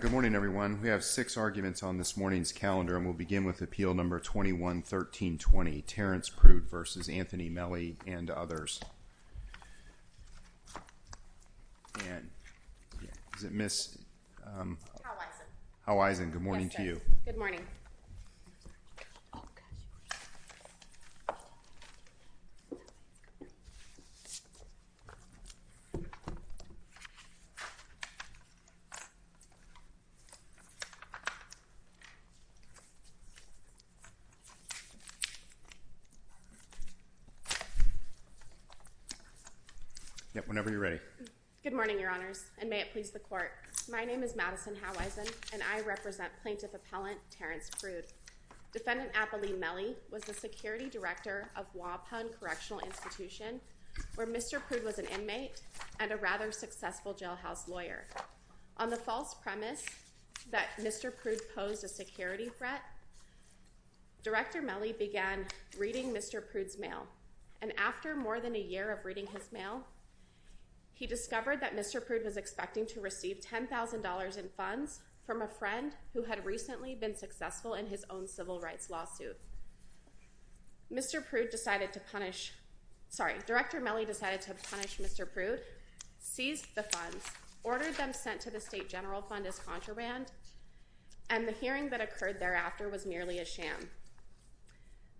Good morning, everyone. We have six arguments on this morning's calendar, and we'll begin with Appeal No. 21-1320, 1327-3124? Sorry, I meant 133ß1 representative Motley of the California Post Office yesterday. Yes, whenever you're ready. Good morning, Your Honors, and may it please the Court. My name is Madison Howison, and I represent Plaintiff Appellant Terrence Prude. Defendant Apolline Mellie was the Security Director of Wapun Correctional Institution, where Mr. Prude was an inmate and a rather successful jailhouse lawyer. On the false premise that Mr. Prude posed a security threat, Director Mellie began reading Mr. Prude's mail. And after more than a year of reading his mail, he discovered that Mr. Prude was expecting to receive $10,000 in funds from a friend who had recently been successful in his own civil rights lawsuit. Mr. Prude decided to punish—sorry, Director Mellie decided to punish Mr. Prude, seized the funds, ordered them sent to the State General Fund as contraband, and the hearing that occurred thereafter was merely a sham.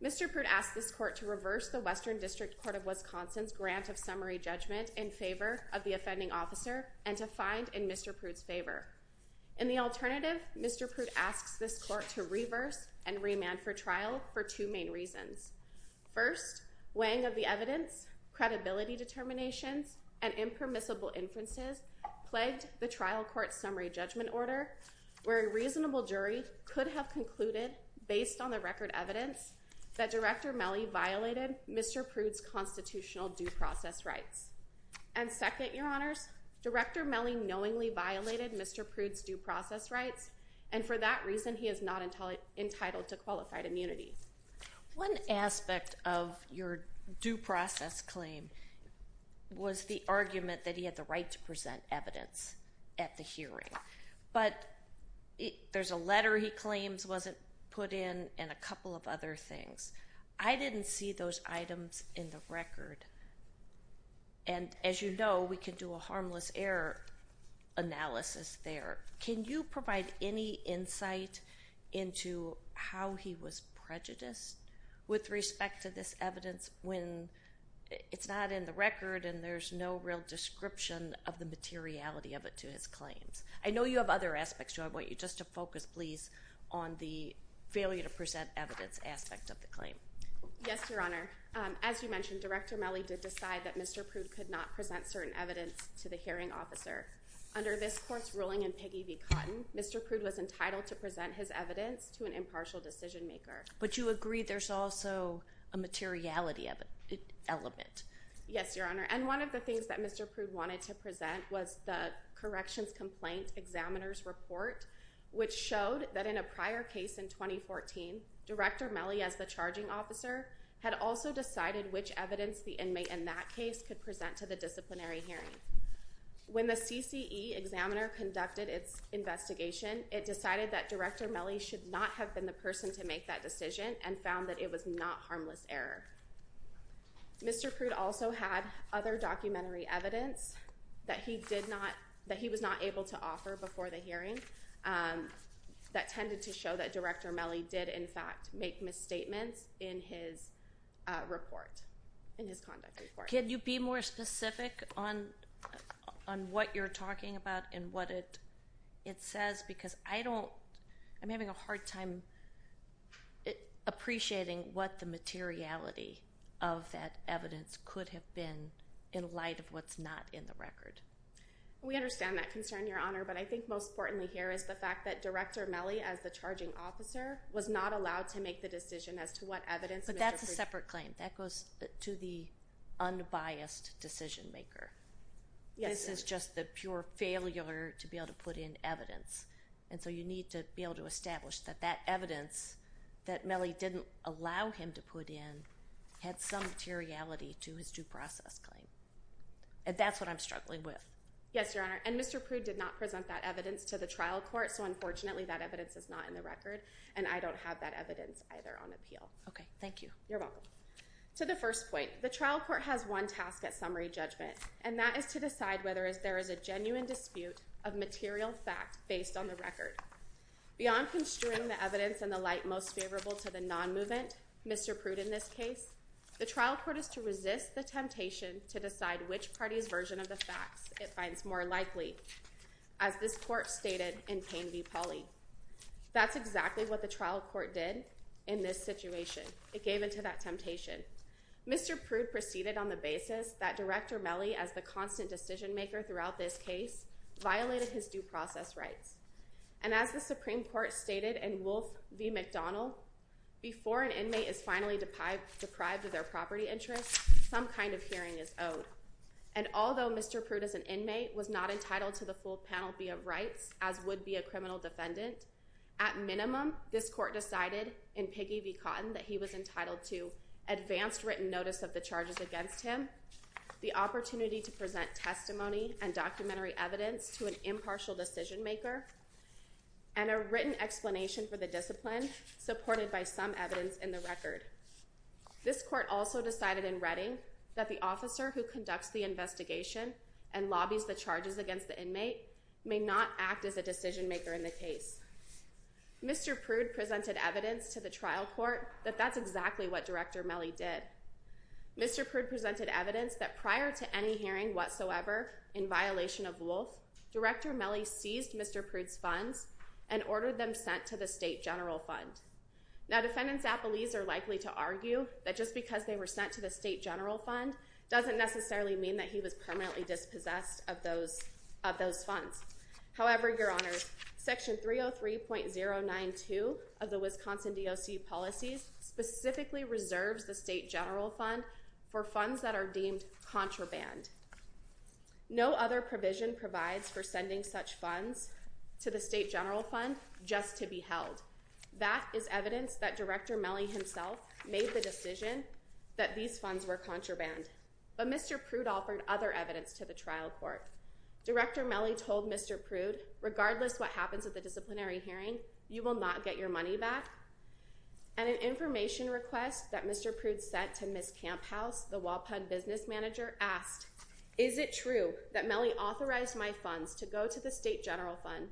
Mr. Prude asked this Court to reverse the Western District Court of Wisconsin's grant of summary judgment in favor of the offending officer and to find in Mr. Prude's favor. In the alternative, Mr. Prude asks this Court to reverse and remand for trial for two main reasons. First, weighing of the evidence, credibility determinations, and impermissible inferences plagued the trial court's summary judgment order, where a reasonable jury could have concluded, based on the record evidence, that Director Mellie violated Mr. Prude's constitutional due process rights. And second, Your Honors, Director Mellie knowingly violated Mr. Prude's due process rights, and for that reason he is not entitled to qualified immunity. One aspect of your due process claim was the argument that he had the right to present evidence at the hearing, but there's a letter he claims wasn't put in and a couple of other things. I didn't see those items in the record, and as you know, we can do a harmless error analysis there. Can you provide any insight into how he was prejudiced with respect to this evidence when it's not in the record and there's no real description of the materiality of it to his claims? I know you have other aspects, so I want you just to focus, please, on the failure to present evidence aspect of the claim. Yes, Your Honor. As you mentioned, Director Mellie did decide that Mr. Prude could not present certain evidence to the hearing officer. Under this court's ruling in Piggy v. Cotton, Mr. Prude was entitled to present his evidence to an impartial decision maker. But you agree there's also a materiality of it, an element. Yes, Your Honor, and one of the things that Mr. Prude wanted to present was the corrections complaint examiner's report, which showed that in a prior case in 2014, Director Mellie as the charging officer had also decided which evidence the inmate in that case could present to the disciplinary hearing. When the CCE examiner conducted its investigation, it decided that Director Mellie should not have been the person to make that decision and found that it was not harmless error. Mr. Prude also had other documentary evidence that he did not, that he was not able to offer before the hearing that tended to show that Director Mellie did, in fact, make misstatements in his report, in his conduct report. Can you be more specific on what you're talking about and what it says? Because I don't, I'm having a hard time appreciating what the materiality of that evidence could have been in light of what's not in the record. We understand that concern, Your Honor, but I think most importantly here is the fact that Director Mellie, as the charging officer, was not allowed to make the decision as to what evidence Mr. Prude— But that's a separate claim. That goes to the unbiased decision maker. This is just the pure failure to be able to put in evidence, and so you need to be able to establish that that evidence that Mellie didn't allow him to put in had some materiality to his due process claim, and that's what I'm struggling with. Yes, Your Honor, and Mr. Prude did not present that evidence to the trial court, so unfortunately that evidence is not in the record, and I don't have that evidence either on appeal. Okay, thank you. You're welcome. To the first point, the trial court has one task at summary judgment, and that is to decide whether there is a genuine dispute of material fact based on the record. Beyond construing the evidence in the light most favorable to the non-movement, Mr. Prude in this case, the trial court is to resist the temptation to decide which party's version of the facts it finds more likely, as this court stated in Payne v. Pauley. That's exactly what the trial court did in this situation. It gave into that temptation. Mr. Prude proceeded on the basis that Director Mellie, as the constant decision maker throughout this case, violated his due process rights, and as the Supreme Court stated in Wolfe v. McDonald, before an inmate is finally deprived of their property interest, some kind of hearing is owed, and although Mr. Prude, as an inmate, was not entitled to the full penalty of rights as would be a criminal defendant, at minimum, this court decided in Piggy v. Cotton that he was entitled to advanced written notice of the charges against him, the opportunity to present testimony and documentary evidence to an impartial decision maker, and a written explanation for the discipline supported by some evidence in the record. This court also decided in Redding that the officer who conducts the investigation and lobbies the charges against the inmate may not act as a decision maker in the case. Mr. Prude presented evidence to the trial court that that's exactly what Director Mellie did. Mr. Prude presented evidence that prior to any hearing whatsoever in violation of Wolfe, Director Mellie seized Mr. Prude's funds and ordered them sent to the State General Fund. Now, defendants' apologies are likely to argue that just because they were sent to the State General Fund doesn't necessarily mean that he was permanently dispossessed of those funds. However, Your Honors, Section 303.092 of the Wisconsin DOC policies specifically reserves the State General Fund for funds that are deemed contraband. No other provision provides for sending such funds to the State General Fund just to be held. That is evidence that Director Mellie himself made the decision that these funds were contraband. But Mr. Prude offered other evidence to the trial court. Director Mellie told Mr. Prude, regardless of what happens at the disciplinary hearing, you will not get your money back. And an information request that Mr. Prude sent to Ms. Camphouse, the Walpug business manager, asked, is it true that Mellie authorized my funds to go to the State General Fund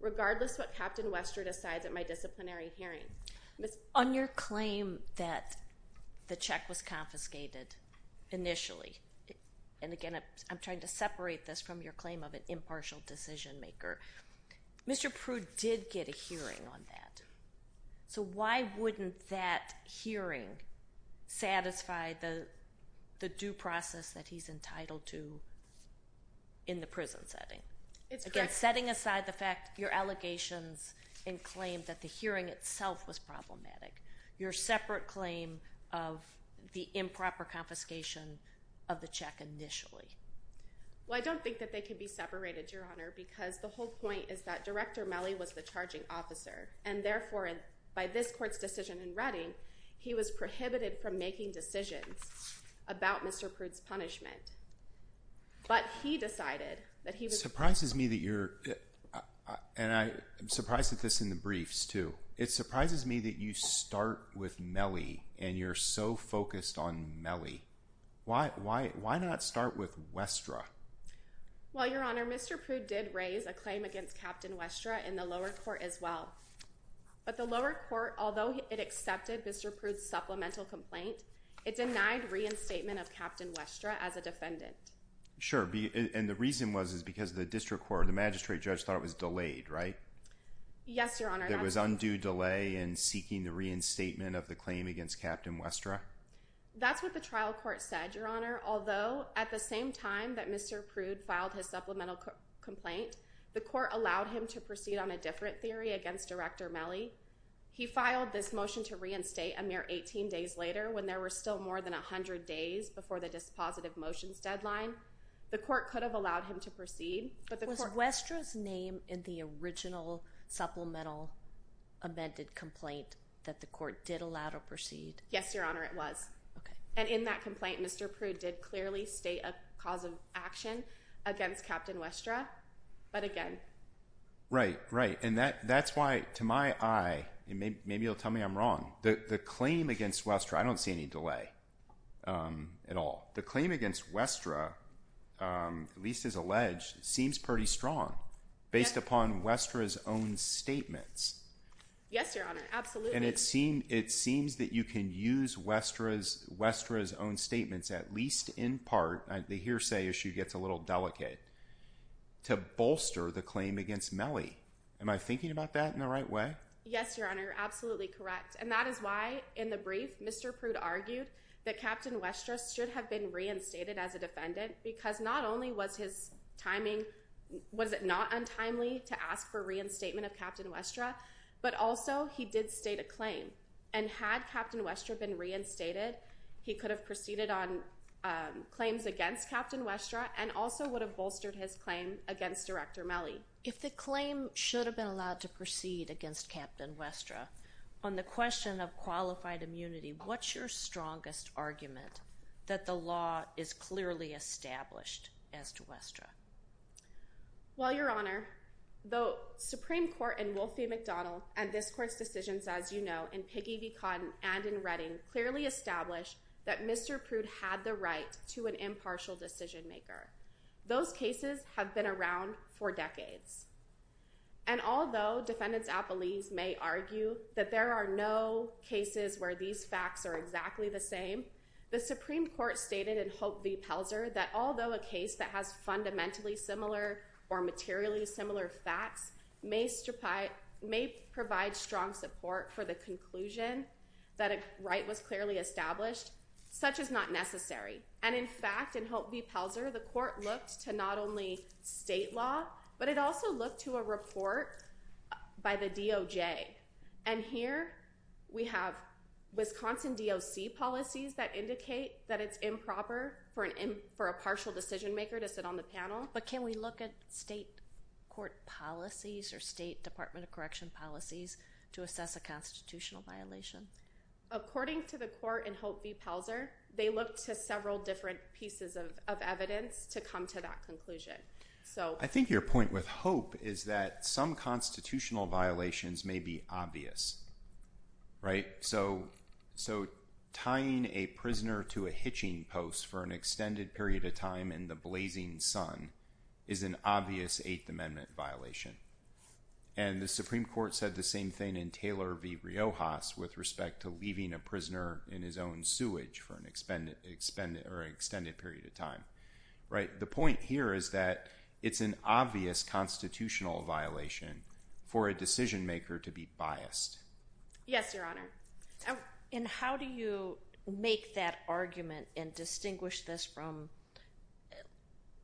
regardless of what Captain Wester decides at my disciplinary hearing? On your claim that the check was confiscated initially, and again, I'm trying to separate this from your claim of an impartial decision maker, Mr. Prude did get a hearing on that. So why wouldn't that hearing satisfy the due process that he's entitled to in the prison setting? Again, setting aside the fact, your allegations and claim that the hearing itself was problematic, your separate claim of the improper confiscation of the check initially. Well, I don't think that they can be separated, Your Honor, because the whole point is that Director Mellie was the charging officer, and therefore, by this court's decision in Reading, he was prohibited from making decisions about Mr. Prude's punishment. But he decided that he was- It surprises me that you're, and I'm surprised at this in the briefs, too. It surprises me that you start with Mellie, and you're so focused on Mellie. Why not start with Westra? Well, Your Honor, Mr. Prude did raise a claim against Captain Westra in the lower court as well. But the lower court, although it accepted Mr. Prude's supplemental complaint, it denied reinstatement of Captain Westra as a defendant. Sure, and the reason was because the district court, the magistrate judge thought it was delayed, right? Yes, Your Honor. There was undue delay in seeking the reinstatement of the claim against Captain Westra? That's what the trial court said, Your Honor, although at the same time that Mr. Prude filed his supplemental complaint, the court allowed him to proceed on a different theory against Director Mellie. He filed this motion to reinstate a mere 18 days later, when there were still more than 100 days before the dispositive motions deadline. The court could have allowed him to proceed, but the court- Was Westra's name in the original supplemental amended complaint that the court did allow to proceed? Yes, Your Honor, it was. Okay. And in that complaint, Mr. Prude did clearly state a cause of action against Captain Westra, but again- Right, right, and that's why, to my eye, and maybe you'll tell me I'm wrong, the claim against Westra, I don't see any delay at all. The claim against Westra, at least as alleged, seems pretty strong based upon Westra's own statements. Yes, Your Honor, absolutely. And it seems that you can use Westra's own statements, at least in part, the hearsay issue gets a little delicate, to bolster the claim against Mellie. Am I thinking about that in the right way? Yes, Your Honor, absolutely correct, and that is why, in the brief, Mr. Prude argued that Captain Westra should have been reinstated as a defendant, because not only was his timing, was it not untimely to ask for reinstatement of Captain Westra, but also he did state a claim, and had Captain Westra been reinstated, he could have proceeded on claims against Captain Westra, and also would have bolstered his claim against Director Mellie. If the claim should have been allowed to proceed against Captain Westra, on the question of qualified immunity, what's your strongest argument that the law is clearly established as to Westra? Well, Your Honor, the Supreme Court in Wolf v. McDonald, and this court's decisions, as you know, in Piggy v. Cotton and in Redding, clearly established that Mr. Prude had the right to an impartial decision maker. Those cases have been around for decades. And although defendants at Belize may argue that there are no cases where these facts are exactly the same, the Supreme Court stated in Hope v. Pelzer that although a case that has fundamentally similar or materially similar facts may provide strong support for the conclusion that a right was clearly established, such is not necessary. And in fact, in Hope v. Pelzer, the court looked to not only state law, but it also looked to a report by the DOJ. And here we have Wisconsin DOC policies that indicate that it's improper for a partial decision maker to sit on the panel. But can we look at state court policies or state Department of Correction policies to assess a constitutional violation? According to the court in Hope v. Pelzer, they looked to several different pieces of evidence to come to that conclusion. So I think your point with Hope is that some constitutional violations may be obvious, right? So tying a prisoner to a hitching post for an extended period of time in the blazing sun is an obvious Eighth Amendment violation. And the Supreme Court said the same thing in Taylor v. Riojas with respect to leaving a prisoner in his own sewage for an extended period of time, right? The point here is that it's an obvious constitutional violation for a decision maker to be biased. Yes, Your Honor. And how do you make that argument and distinguish this from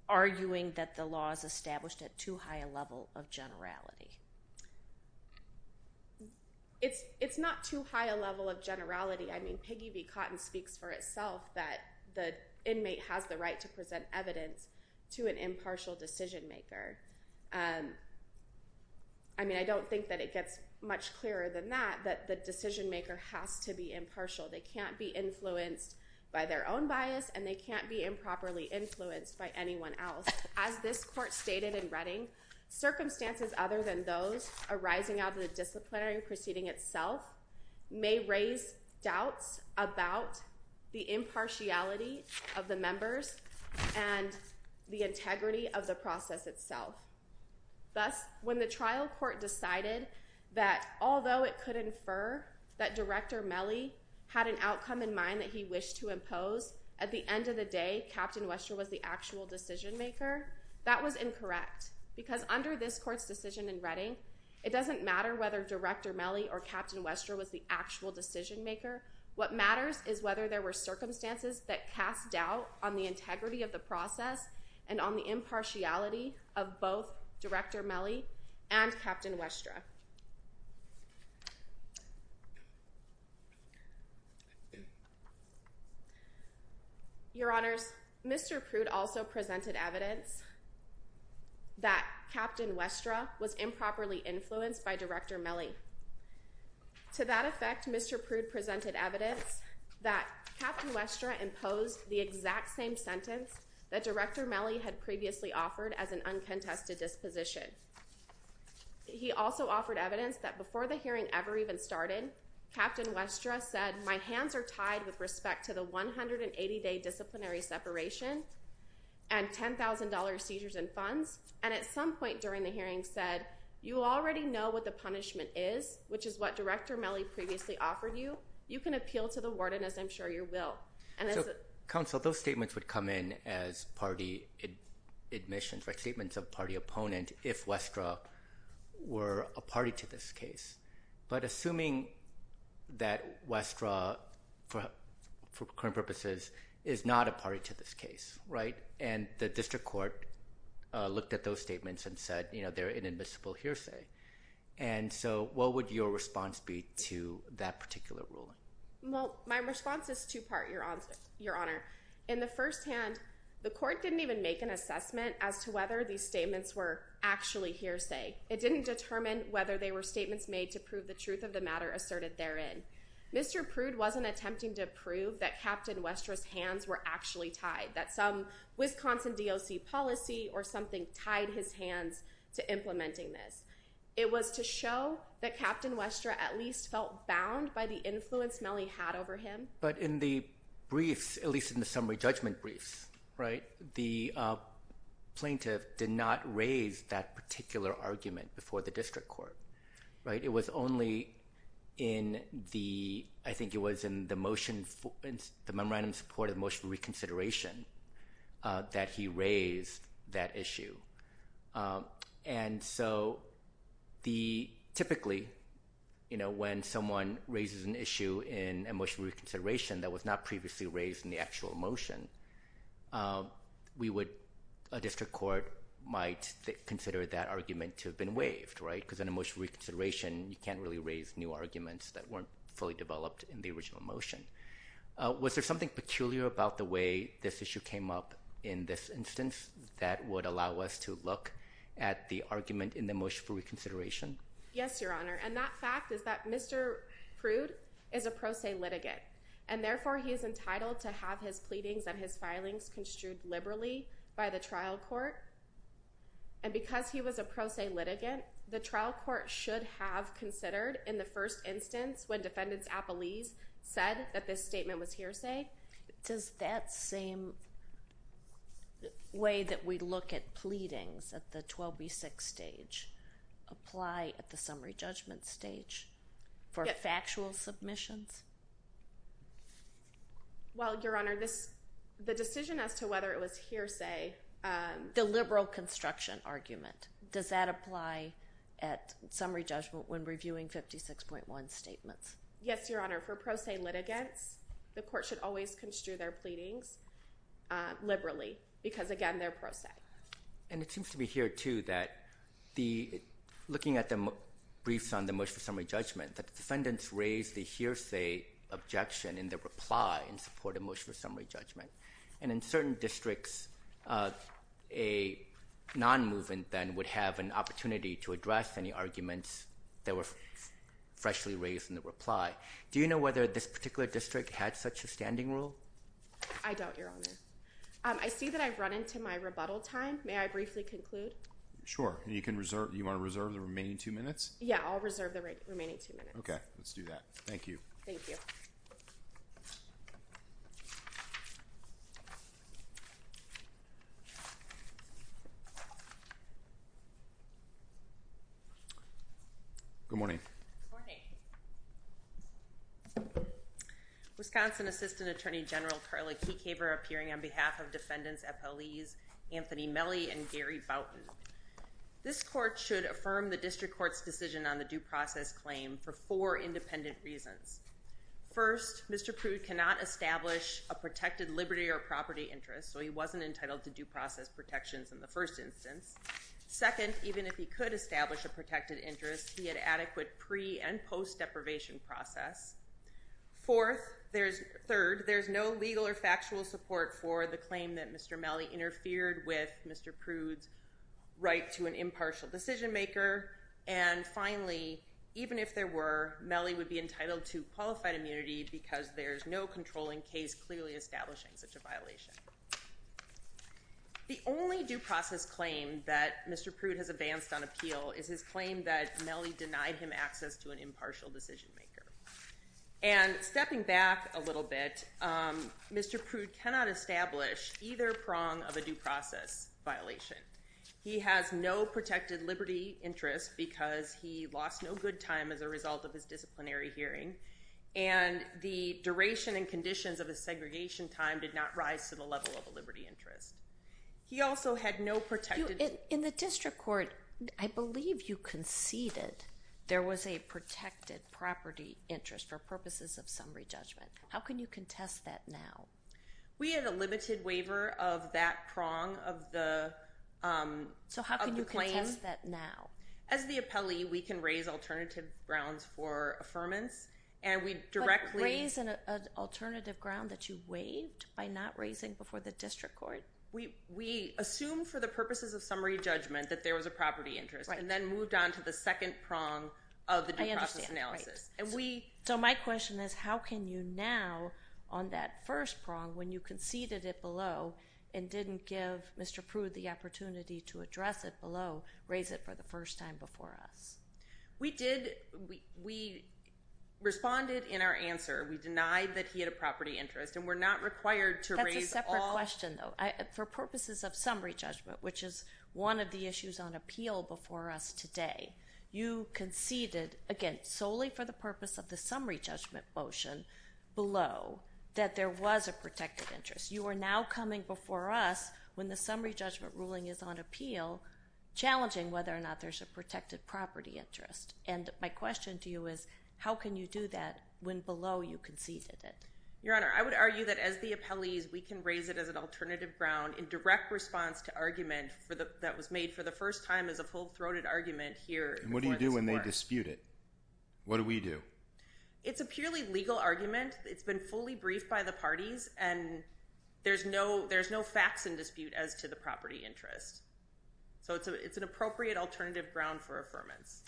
arguing that the law is established at too high a level of generality? It's not too high a level of generality. I mean, Piggy v. Cotton speaks for itself that the inmate has the right to present evidence to an impartial decision maker. I mean, I don't think that it gets much clearer than that, that the decision maker has to be impartial. They can't be influenced by their own bias and they can't be improperly influenced by anyone else. As this court stated in Redding, circumstances other than those arising out of the disciplinary proceeding itself may raise doubts about the impartiality of the members and the integrity of the process itself. Thus, when the trial court decided that although it could infer that Director Melley had an outcome in mind that he wished to impose, at the end of the day, Captain Wester was the actual decision maker, that was incorrect. Because under this court's decision in Redding, it doesn't matter whether Director Melley or Captain Wester was the actual decision maker. What matters is whether there were circumstances that cast doubt on the integrity of the process and on the impartiality of both Director Melley and Captain Wester. Your Honors, Mr. Prude also presented evidence that Captain Wester was improperly influenced by Director Melley. To that effect, Mr. Prude presented evidence that Captain Wester imposed the exact same sentence that Director Melley had previously offered as an uncontested disposition. He also offered evidence that before the hearing ever even started, Captain Wester said, my hands are tied with respect to the 180-day disciplinary separation and $10,000 seizures and funds. And at some point during the hearing said, you already know what the punishment is, which is what Director Melley previously offered you. You can appeal to the warden as I'm sure you will. Counsel, those statements would come in as party admissions, statements of party opponent if Wester were a party to this case. But assuming that Wester, for current purposes, is not a party to this case, right? And the district court looked at those statements and said, you know, they're inadmissible hearsay. And so what would your response be to that particular ruling? Well, my response is two-part, Your Honor. In the first hand, the court didn't even make an assessment as to whether these statements were actually hearsay. It didn't determine whether they were statements made to prove the truth of the matter asserted therein. Mr. Prude wasn't attempting to prove that Captain Wester's hands were actually tied, that some Wisconsin DOC policy or something tied his hands to implementing this. It was to show that Captain Wester at least felt bound by the influence Melley had over him. But in the briefs, at least in the summary judgment briefs, right, the plaintiff did not raise that particular argument before the district court, right? It was only in the, I think it was in the motion, the memorandum of support of motion reconsideration that he raised that issue. And so the, typically, you know, when someone raises an issue in a motion of reconsideration that was not previously raised in the actual motion, we would, a district court might consider that argument to have been waived, right? Because in a motion of reconsideration, you can't really raise new arguments that weren't fully developed in the original motion. Was there something peculiar about the way this issue came up in this instance that would allow us to look at the argument in the motion for reconsideration? Yes, Your Honor. And that fact is that Mr. Prude is a pro se litigant. And therefore, he is entitled to have his pleadings and his filings construed liberally by the trial court. And because he was a pro se litigant, the trial court should have considered in the first instance when defendants' appellees said that this statement was hearsay. Does that same way that we look at pleadings at the 12B6 stage apply at the summary judgment stage for factual submissions? Well, Your Honor, this, the decision as to whether it was hearsay. The liberal construction argument. Does that apply at summary judgment when reviewing 56.1 statements? Yes, Your Honor. For pro se litigants, the court should always construe their pleadings liberally because, again, they're pro se. And it seems to be here, too, that the, looking at the briefs on the motion for summary judgment, that defendants raised the hearsay objection in the reply in support of motion for summary judgment. And in certain districts, a non-movement then would have an opportunity to address any arguments that were freshly raised in the reply. Do you know whether this particular district had such a standing rule? I don't, Your Honor. I see that I've run into my rebuttal time. May I briefly conclude? Sure. And you can reserve, you want to reserve the remaining two minutes? Yeah, I'll reserve the remaining two minutes. Okay. Let's do that. Thank you. Thank you. Good morning. Good morning. Wisconsin Assistant Attorney General Carla Keecaver appearing on behalf of defendants at police, Anthony Melle and Gary Boutin. This court should affirm the district court's decision on the due process claim for four independent reasons. First, Mr. Prude cannot establish a protected liberty or property interest, so he wasn't entitled to due process protections in the first instance. Second, even if he could establish a protected interest, he had adequate pre- and post-deprivation process. Fourth, there's, third, there's no legal or factual support for the claim that Mr. Melle interfered with Mr. Prude's right to an impartial decision maker. And finally, even if there were, Melle would be entitled to qualified immunity because there's no controlling case clearly establishing such a violation. The only due process claim that Mr. Prude has advanced on appeal is his claim that Melle denied him access to an impartial decision maker. And stepping back a little bit, Mr. Prude cannot establish either prong of a due process violation. He has no protected liberty interest because he lost no good time as a result of his disciplinary level of a liberty interest. He also had no protected. In the district court, I believe you conceded there was a protected property interest for purposes of summary judgment. How can you contest that now? We had a limited waiver of that prong of the, um, of the claim. So how can you contest that now? As the appellee, we can raise alternative grounds for affirmance, and we directly. Can you raise an alternative ground that you waived by not raising before the district court? We, we assumed for the purposes of summary judgment that there was a property interest and then moved on to the second prong of the due process analysis. And we. So my question is, how can you now on that first prong when you conceded it below and didn't give Mr. Prude the opportunity to address it below, raise it for the first time before us? We did. We, we responded in our answer, we denied that he had a property interest and we're not required to raise. That's a separate question though. For purposes of summary judgment, which is one of the issues on appeal before us today, you conceded, again, solely for the purpose of the summary judgment motion below, that there was a protected interest. You are now coming before us when the summary judgment ruling is on appeal, challenging whether or not there's a protected property interest. And my question to you is, how can you do that when below you conceded it? Your Honor, I would argue that as the appellees, we can raise it as an alternative ground in direct response to argument for the, that was made for the first time as a full throated argument here. And what do you do when they dispute it? What do we do? It's a purely legal argument. It's been fully briefed by the parties and there's no, there's no facts in dispute as to the property interest. So it's a, it's an appropriate alternative ground for affirmance.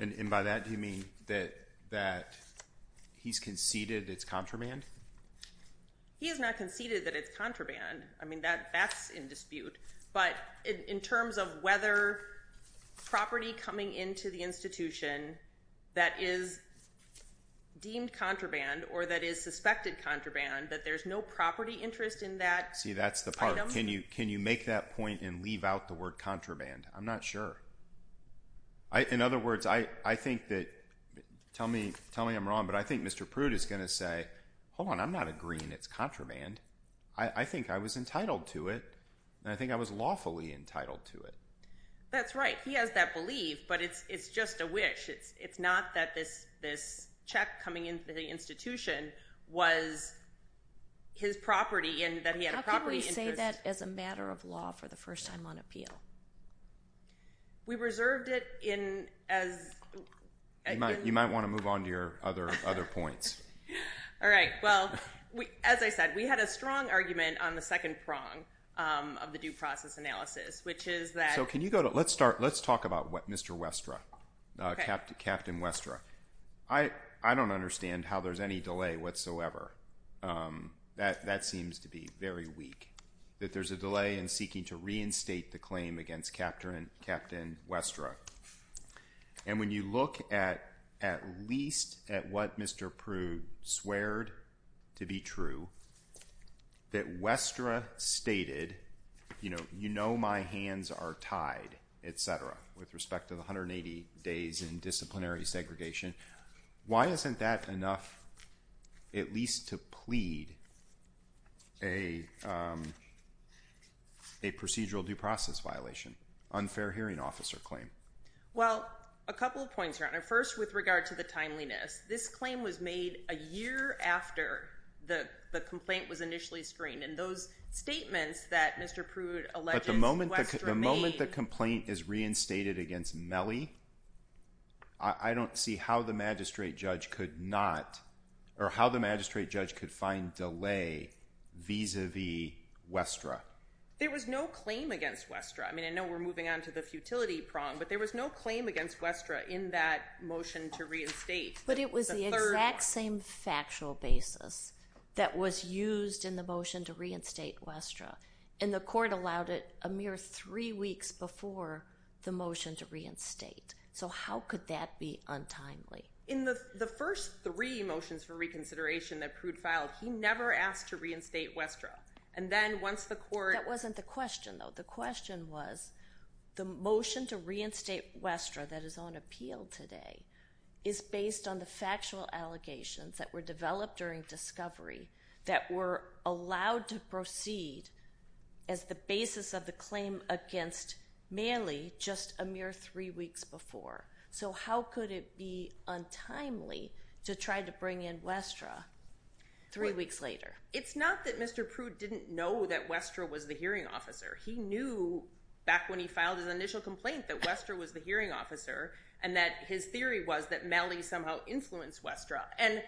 And by that, do you mean that, that he's conceded it's contraband? He has not conceded that it's contraband. I mean that, that's in dispute, but in terms of whether property coming into the institution that is deemed contraband or that is suspected contraband, that there's no property interest in that. See, that's the part. Can you, can you make that point and leave out the word contraband? I'm not sure. In other words, I think that, tell me, tell me I'm wrong, but I think Mr. Prude is going to say, hold on, I'm not agreeing it's contraband. I think I was entitled to it and I think I was lawfully entitled to it. That's right. He has that belief, but it's, it's just a wish. It's, it's not that this, this check coming into the institution was his property and that he had a property interest. How can we say that as a matter of law for the first time on appeal? We reserved it in, as. You might, you might want to move on to your other, other points. All right. Well, we, as I said, we had a strong argument on the second prong of the due process analysis, which is that. So can you go to, let's start. Let's talk about what Mr. Westra, Captain Westra. I don't understand how there's any delay whatsoever. That seems to be very weak, that there's a delay in seeking to reinstate the claim against Captain Westra. And when you look at, at least at what Mr. Prude sweared to be true, that Westra stated, you know, you know, my hands are tied, et cetera, with respect to the 180 days in disciplinary segregation. Why isn't that enough, at least to plead a, a procedural due process violation, unfair hearing officer claim? Well, a couple of points here. And first with regard to the timeliness, this claim was made a year after the complaint was initially screened. And those statements that Mr. Prude alleged Westra made. But the moment the complaint is reinstated against Mellie, I don't see how the magistrate judge could not, or how the magistrate judge could find delay vis-a-vis Westra. There was no claim against Westra. I mean, I know we're moving on to the futility prong, but there was no claim against Westra in that motion to reinstate. But it was the exact same factual basis that was used in the motion to reinstate Westra. And the court allowed it a mere three weeks before the motion to reinstate. So how could that be untimely? In the, the first three motions for reconsideration that Prude filed, he never asked to reinstate Westra. And then once the court. That wasn't the question though. The question was, the motion to reinstate Westra that is on appeal today is based on the factual allegations that were developed during discovery that were allowed to proceed as the basis of the claim against Mellie just a mere three weeks before. So how could it be untimely to try to bring in Westra three weeks later? It's not that Mr. Prude didn't know that Westra was the hearing officer. He knew back when he filed his initial complaint that Westra was the hearing officer. And that his theory was that Mellie somehow influenced Westra. And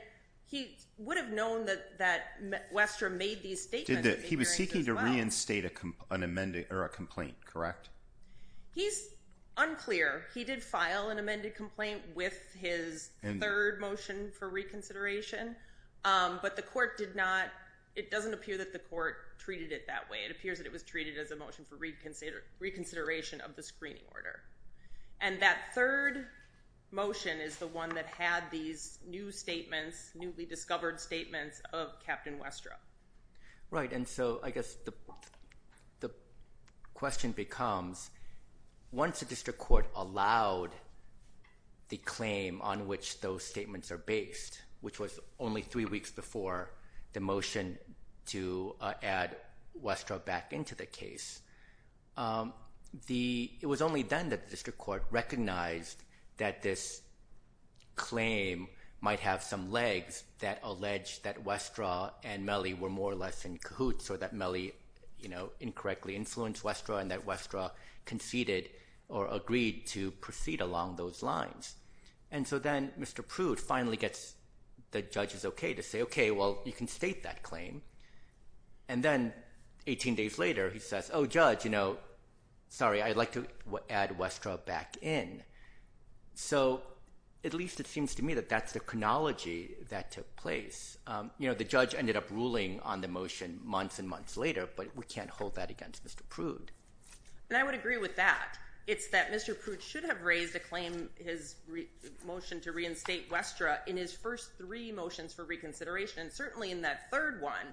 he would have known that, that Westra made these statements. He was seeking to reinstate an amended or a complaint, correct? He's unclear. He did file an amended complaint with his third motion for reconsideration. But the court did not. It doesn't appear that the court treated it that way. It appears that it was treated as a motion for reconsideration of the screening order. And that third motion is the one that had these new statements, newly discovered statements of Captain Westra. Right. And so I guess the question becomes, once the district court allowed the claim on which those statements are based, which was only three weeks before the motion to add Westra back into the case, it was only then that the district court recognized that this claim might have some legs that allege that Westra and Mellie were more or less in cahoots or that Mellie, you know, incorrectly influenced Westra and that Westra conceded or agreed to proceed along those lines. And so then Mr. Prude finally gets the judge's okay to say, okay, well, you can state that claim. And then 18 days later, he says, oh, judge, you know, sorry, I'd like to add Westra back in. So at least it seems to me that that's the chronology that took place. You know, the judge ended up ruling on the motion months and months later, but we can't hold that against Mr. Prude. And I would agree with that. It's that Mr. Prude should have raised a claim, his motion to reinstate Westra in his first three motions for reconsideration, certainly in that third one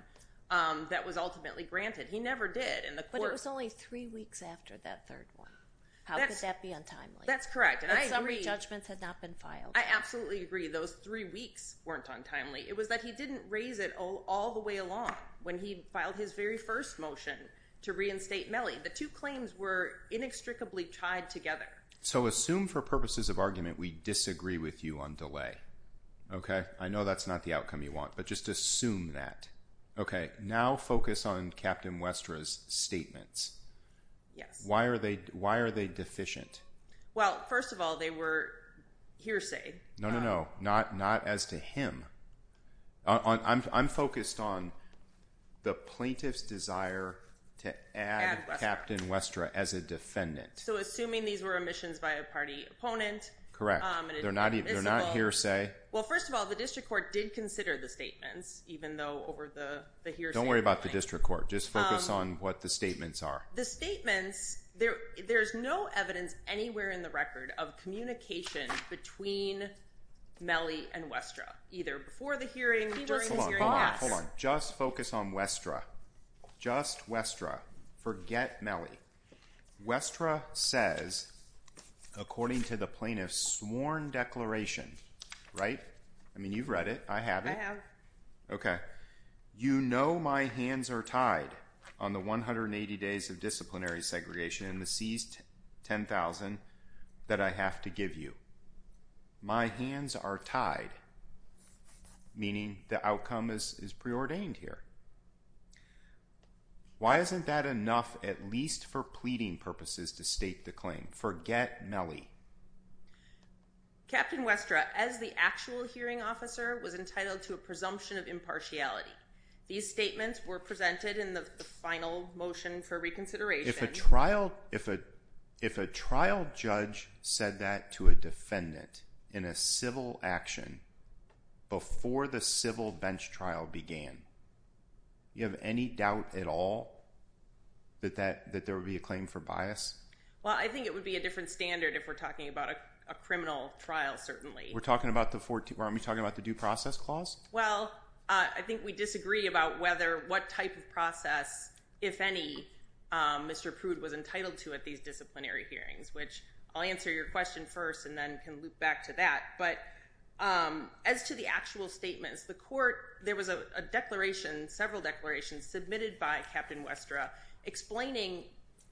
that was ultimately granted. He never did. And the court- But it was only three weeks after that third one. How could that be untimely? That's correct. And I agree- And some re-judgments had not been filed. I absolutely agree. Those three weeks weren't untimely. It was that he didn't raise it all the way along when he filed his very first motion to reinstate Mellie. The two claims were inextricably tied together. So assume for purposes of argument, we disagree with you on delay. Okay? I know that's not the outcome you want, but just assume that. Okay. Now focus on Captain Westra's statements. Why are they deficient? Well, first of all, they were hearsay. No, no, no. Not as to him. I'm focused on the plaintiff's desire to add Captain Westra as a defendant. So assuming these were omissions by a party opponent- Correct. They're not hearsay. Well, first of all, the district court did consider the statements, even though over the hearsay- Don't worry about the district court. Just focus on what the statements are. The statements, there's no evidence anywhere in the record of communication between Mellie and Westra, either before the hearing or during this hearing. Just hold on. Hold on. Hold on. Just focus on Westra. Just Westra. Forget Mellie. Westra says, according to the plaintiff's sworn declaration, right? I mean, you've read it. I have it. I have. Okay. You know my hands are tied on the 180 days of disciplinary segregation and the seized 10,000 that I have to give you. My hands are tied, meaning the outcome is preordained here. Why isn't that enough, at least for pleading purposes, to state the claim? Forget Mellie. Captain Westra, as the actual hearing officer, was entitled to a presumption of impartiality. These statements were presented in the final motion for reconsideration. If a trial judge said that to a defendant in a civil action before the civil bench trial began, do you have any doubt at all that there would be a claim for bias? Well, I think it would be a different standard if we're talking about a criminal trial, certainly. We're talking about the 14, we're talking about the due process clause? Well, I think we disagree about what type of process, if any, Mr. Prude was entitled to at these disciplinary hearings, which I'll answer your question first and then can loop back to that. But as to the actual statements, the court, there was a declaration, several declarations submitted by Captain Westra explaining,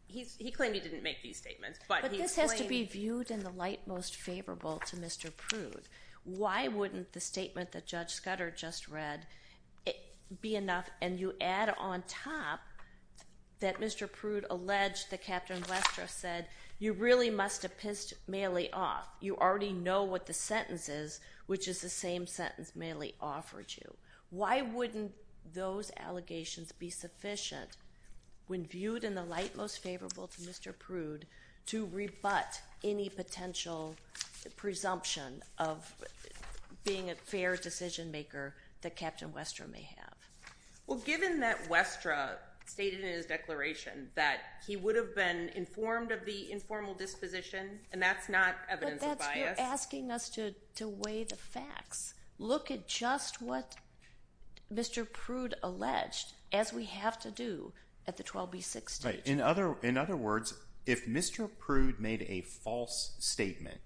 he claimed he didn't make these statements, but he explained- But this has to be viewed in the light most favorable to Mr. Prude. Why wouldn't the statement that Judge Scudder just read be enough? And you add on top that Mr. Prude alleged that Captain Westra said, you really must have pissed Mailey off. You already know what the sentence is, which is the same sentence Mailey offered you. Why wouldn't those allegations be sufficient when viewed in the light most favorable to Mr. Prude to rebut any potential presumption of being a fair decision maker that Captain Westra may have? Well, given that Westra stated in his declaration that he would have been informed of the informal disposition, and that's not evidence of bias- But that's asking us to weigh the facts. Look at just what Mr. Prude alleged, as we have to do at the 12B6 stage. Right. In other words, if Mr. Prude made a false statement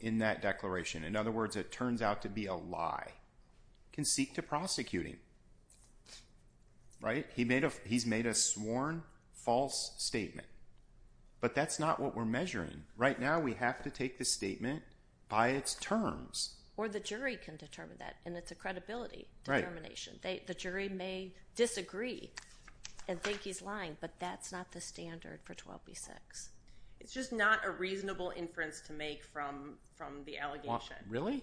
in that declaration, in other words, it turns out to be a lie, you can seek to prosecute him, right? He's made a sworn false statement, but that's not what we're measuring. Right now, we have to take the statement by its terms. Or the jury can determine that, and it's a credibility determination. The jury may disagree and think he's lying, but that's not the standard for 12B6. It's just not a reasonable inference to make from the allegation. Really?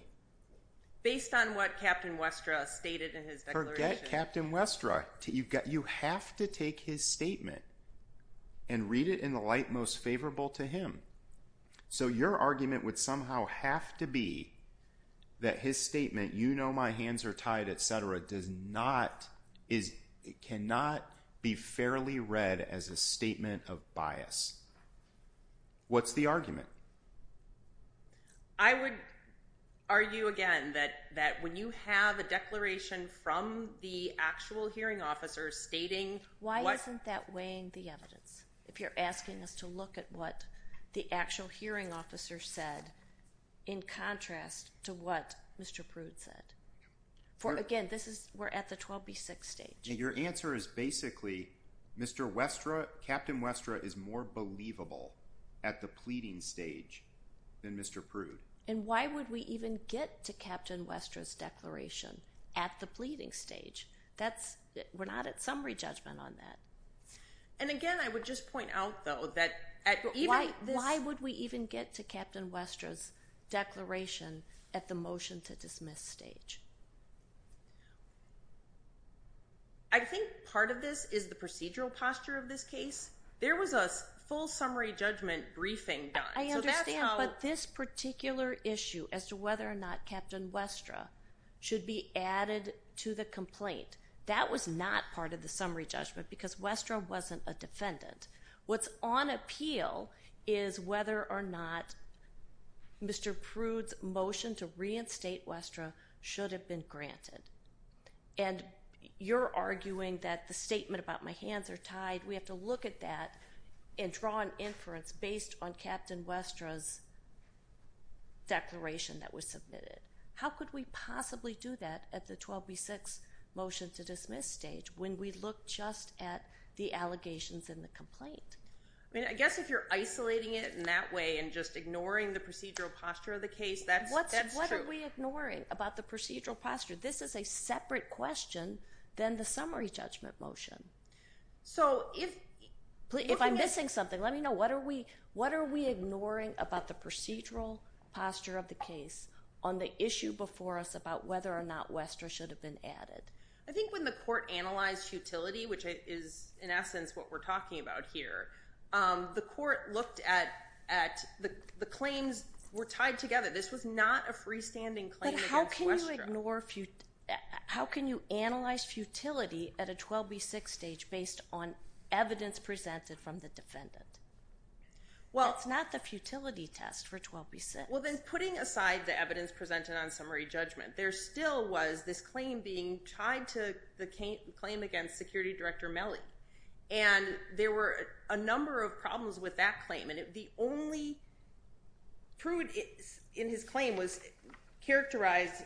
Based on what Captain Westra stated in his declaration. Forget Captain Westra. You have to take his statement and read it in the light most favorable to him. So your argument would somehow have to be that his statement, you know my hands are not, it cannot be fairly read as a statement of bias. What's the argument? I would argue again that when you have a declaration from the actual hearing officer stating- Why isn't that weighing the evidence? If you're asking us to look at what the actual hearing officer said in contrast to what Mr. Prude said. Again, we're at the 12B6 stage. Your answer is basically, Captain Westra is more believable at the pleading stage than Mr. Prude. And why would we even get to Captain Westra's declaration at the pleading stage? We're not at summary judgment on that. And again, I would just point out though that- Why would we even get to Captain Westra's declaration at the motion to dismiss stage? I think part of this is the procedural posture of this case. There was a full summary judgment briefing done. I understand, but this particular issue as to whether or not Captain Westra should be added to the complaint, that was not part of the summary judgment because Westra wasn't a defendant. What's on appeal is whether or not Mr. Prude's motion to reinstate Westra should have been granted. And you're arguing that the statement about my hands are tied. We have to look at that and draw an inference based on Captain Westra's declaration that was submitted. How could we possibly do that at the 12B6 motion to dismiss stage when we look just at the allegations in the complaint? I guess if you're isolating it in that way and just ignoring the procedural posture of the case, that's true. What are we ignoring about the procedural posture? This is a separate question than the summary judgment motion. So if I'm missing something, let me know. What are we ignoring about the procedural posture of the case on the issue before us about whether or not Westra should have been added? I think when the court analyzed futility, which is in essence what we're talking about here, the court looked at the claims were tied together. This was not a freestanding claim against Westra. How can you analyze futility at a 12B6 stage based on evidence presented from the defendant? That's not the futility test for 12B6. Well then putting aside the evidence presented on summary judgment, there still was this tied to the claim against security director Mellie and there were a number of problems with that claim. The only prude in his claim was characterized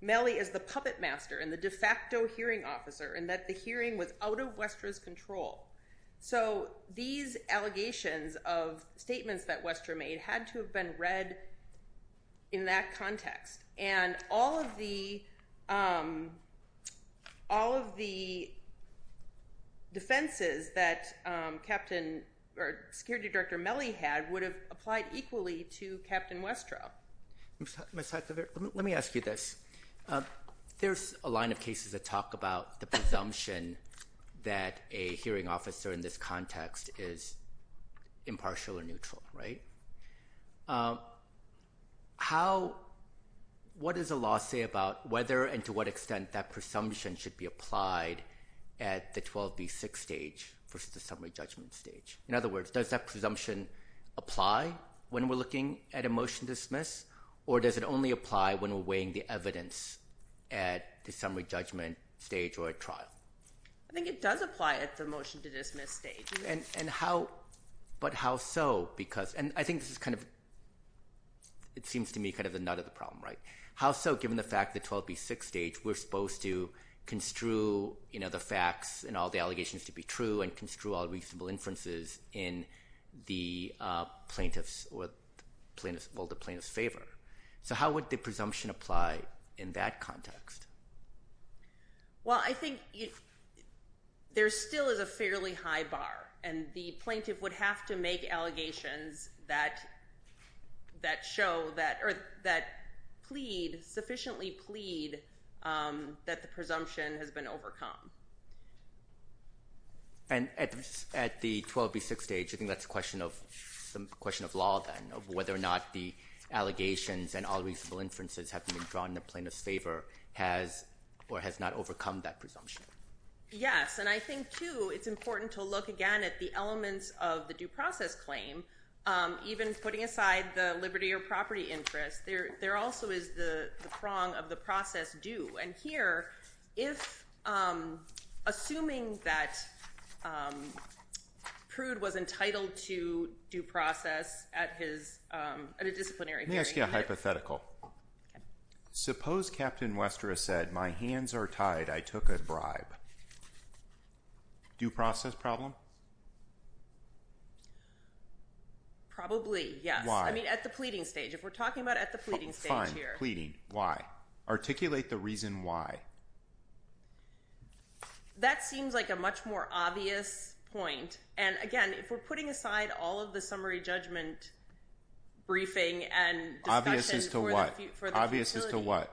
Mellie as the puppet master and the de facto hearing officer and that the hearing was out of Westra's control. So these allegations of statements that Westra made had to have been read in that context and all of the defenses that security director Mellie had would have applied equally to Captain Westra. Ms. Huckabee, let me ask you this. There's a line of cases that talk about the presumption that a hearing officer in this context is impartial or neutral, right? How, what does the law say about whether and to what extent that presumption should be applied at the 12B6 stage versus the summary judgment stage? In other words, does that presumption apply when we're looking at a motion to dismiss or does it only apply when we're weighing the evidence at the summary judgment stage or at trial? I think it does apply at the motion to dismiss stage. And how, but how so? Because, and I think this is kind of, it seems to me kind of the nut of the problem, right? How so given the fact that 12B6 stage, we're supposed to construe, you know, the facts and all the allegations to be true and construe all reasonable inferences in the plaintiff's or the plaintiff's, well, the plaintiff's favor. So how would the presumption apply in that context? Well, I think there still is a fairly high bar and the plaintiff would have to make allegations. That, that show that, or that plead, sufficiently plead that the presumption has been overcome. And at the 12B6 stage, I think that's a question of, some question of law then of whether or not the allegations and all reasonable inferences have been drawn in the plaintiff's favor has or has not overcome that presumption. Yes. And I think too, it's important to look again at the elements of the due process claim. Even putting aside the liberty or property interest, there, there also is the prong of the process due. And here, if, assuming that Prude was entitled to due process at his, at a disciplinary hearing. Let me ask you a hypothetical. Hypothetical. Okay. Suppose Captain Wester has said, my hands are tied, I took a bribe. Due process problem? Probably, yes. Why? I mean, at the pleading stage. If we're talking about at the pleading stage here. Fine. Pleading. Why? Articulate the reason why. That seems like a much more obvious point. And again, if we're putting aside all of the summary judgment briefing and discussion. Obvious as to what?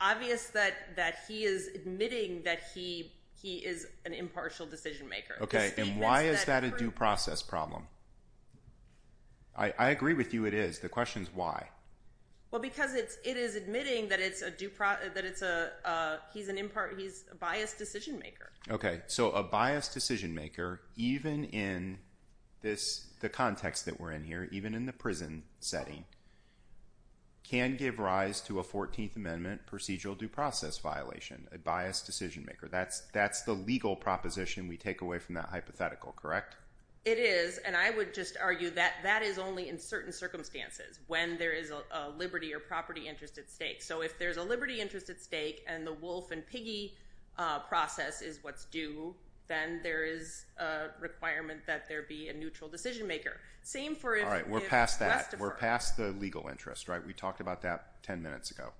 Obvious that, that he is admitting that he, he is an impartial decision maker. Okay. And why is that a due process problem? I agree with you, it is. The question is why? Well, because it's, it is admitting that it's a due process, that it's a, he's an impart, he's a biased decision maker. Okay. So a biased decision maker, even in this, the context that we're in here, even in the can give rise to a 14th amendment procedural due process violation, a biased decision maker. That's, that's the legal proposition we take away from that hypothetical, correct? It is. And I would just argue that that is only in certain circumstances when there is a, a liberty or property interest at stake. So if there's a liberty interest at stake and the wolf and piggy process is what's due, then there is a requirement that there be a neutral decision maker. Same for if. All right, we're past that. We're past the legal interest, right? We talked about that 10 minutes ago.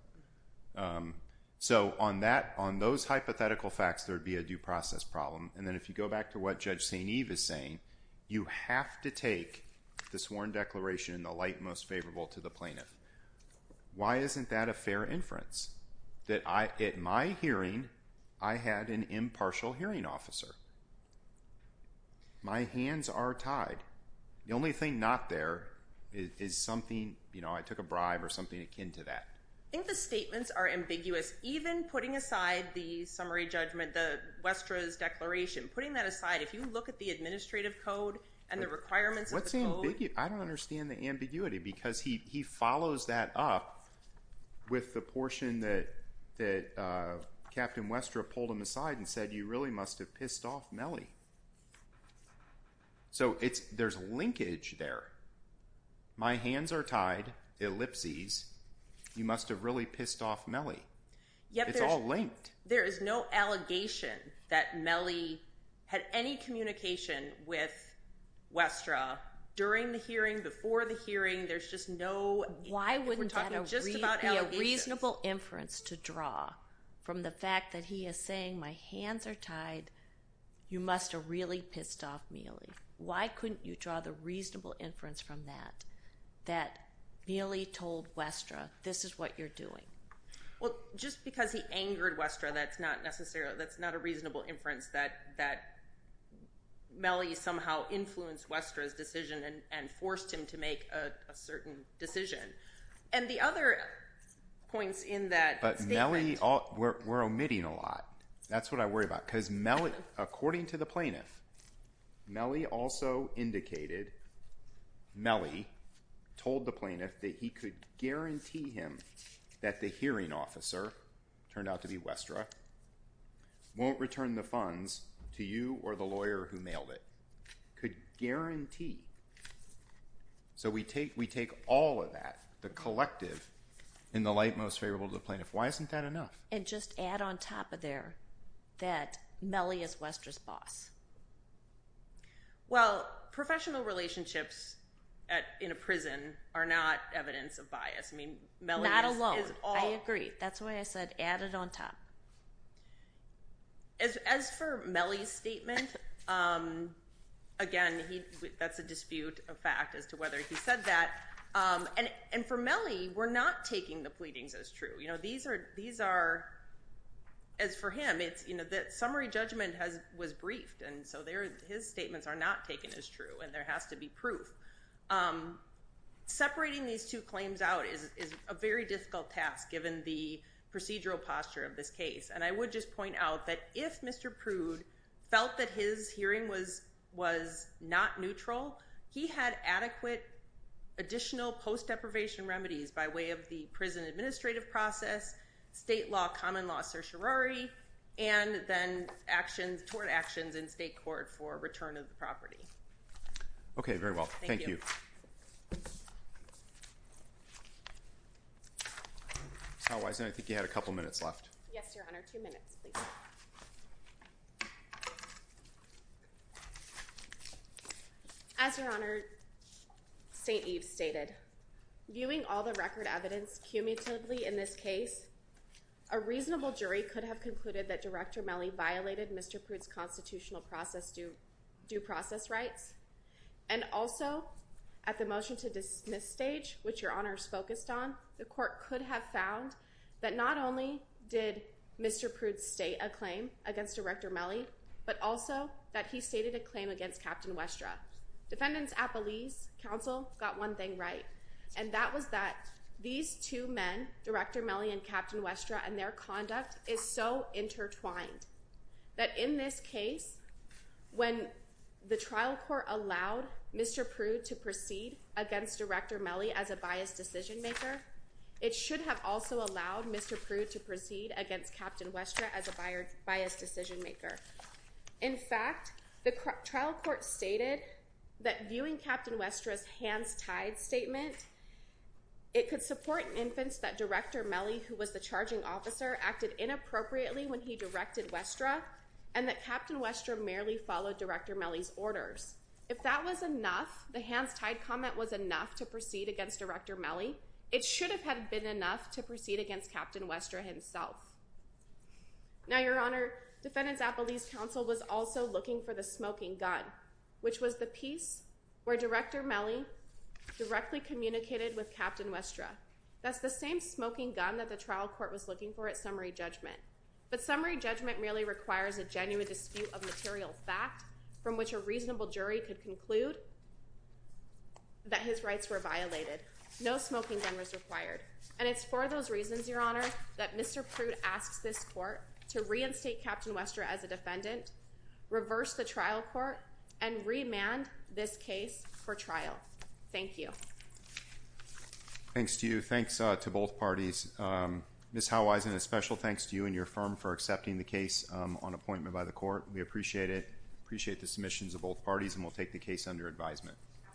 So on that, on those hypothetical facts, there'd be a due process problem. And then if you go back to what Judge St. Eve is saying, you have to take the sworn declaration in the light most favorable to the plaintiff. Why isn't that a fair inference? That I, at my hearing, I had an impartial hearing officer. My hands are tied. The only thing not there is, is something, you know, I took a bribe or something akin to that. I think the statements are ambiguous. Even putting aside the summary judgment, the Westra's declaration, putting that aside, if you look at the administrative code and the requirements of the code. What's the ambiguity? I don't understand the ambiguity because he, he follows that up with the portion that, that Captain Westra pulled him aside and said, you really must have pissed off Mellie. So, it's, there's linkage there. My hands are tied, ellipses, you must have really pissed off Mellie. It's all linked. There is no allegation that Mellie had any communication with Westra during the hearing, before the hearing. There's just no, we're talking just about allegations. Why wouldn't that be a reasonable inference to draw from the fact that he is saying, my hands are tied, you must have really pissed off Mellie. Why couldn't you draw the reasonable inference from that, that Mellie told Westra, this is what you're doing? Well, just because he angered Westra, that's not necessarily, that's not a reasonable inference that, that Mellie somehow influenced Westra's decision and, and forced him to make a certain decision. And the other points in that statement. But Mellie, we're, we're omitting a lot. That's what I worry about. Because Mellie, according to the plaintiff, Mellie also indicated, Mellie told the plaintiff that he could guarantee him that the hearing officer, turned out to be Westra, won't return the funds to you or the lawyer who mailed it. Could guarantee. So we take, we take all of that, the collective, in the light most favorable to the plaintiff. Why isn't that enough? And just add on top of there, that Mellie is Westra's boss. Well, professional relationships at, in a prison are not evidence of bias. I mean, Mellie is all. Not alone. I agree. That's why I said add it on top. As for Mellie's statement, again, he, that's a dispute of fact as to whether he said that. And for Mellie, we're not taking the pleadings as true. You know, these are, these are, as for him, it's, you know, that summary judgment has, was briefed. And so there, his statements are not taken as true. And there has to be proof. Separating these two claims out is a very difficult task, given the procedural posture of this case. And I would just point out that if Mr. Prude felt that his hearing was, was not neutral, he had adequate additional post-deprivation remedies by way of the prison administrative process, state law, common law certiorari, and then actions, tort actions in state court for return of the property. Okay. Very well. Thank you. Thank you. As Your Honor, St. Eve stated, viewing all the record evidence cumulatively in this case, a reasonable jury could have concluded that Director Mellie violated Mr. Prude's constitutional process due, due process rights. And also at the motion to dismiss stage, which Your Honor is focused on, the court could have found that not only did Mr. Prude state a claim against Director Mellie, but also that he stated a claim against Captain Westra. Defendants at Belize Council got one thing right, and that was that these two men, Director Mellie and Captain Westra, and their conduct is so intertwined that in this case, when the trial court allowed Mr. Prude to proceed against Director Mellie as a biased decision maker, it should have also allowed Mr. Prude to proceed against Captain Westra as a biased decision maker. In fact, the trial court stated that viewing Captain Westra's hands-tied statement, it could support an inference that Director Mellie, who was the charging officer, acted inappropriately when he directed Westra, and that Captain Westra merely followed Director Mellie's orders. If that was enough, the hands-tied comment was enough to proceed against Director Mellie, it should have been enough to proceed against Captain Westra himself. Now, Your Honor, Defendants at Belize Council was also looking for the smoking gun, which was the piece where Director Mellie directly communicated with Captain Westra. That's the same smoking gun that the trial court was looking for at summary judgment. But summary judgment merely requires a genuine dispute of material fact from which a reasonable jury could conclude that his rights were violated. No smoking gun was required. And it's for those reasons, Your Honor, that Mr. Prude asks this court to reinstate Captain Westra as a defendant, reverse the trial court, and remand this case for trial. Thank you. Thanks to you. Thanks to both parties. Ms. Howison, a special thanks to you and your firm for accepting the case on appointment by the court. We appreciate it. Appreciate the submissions of both parties, and we'll take the case under advisement.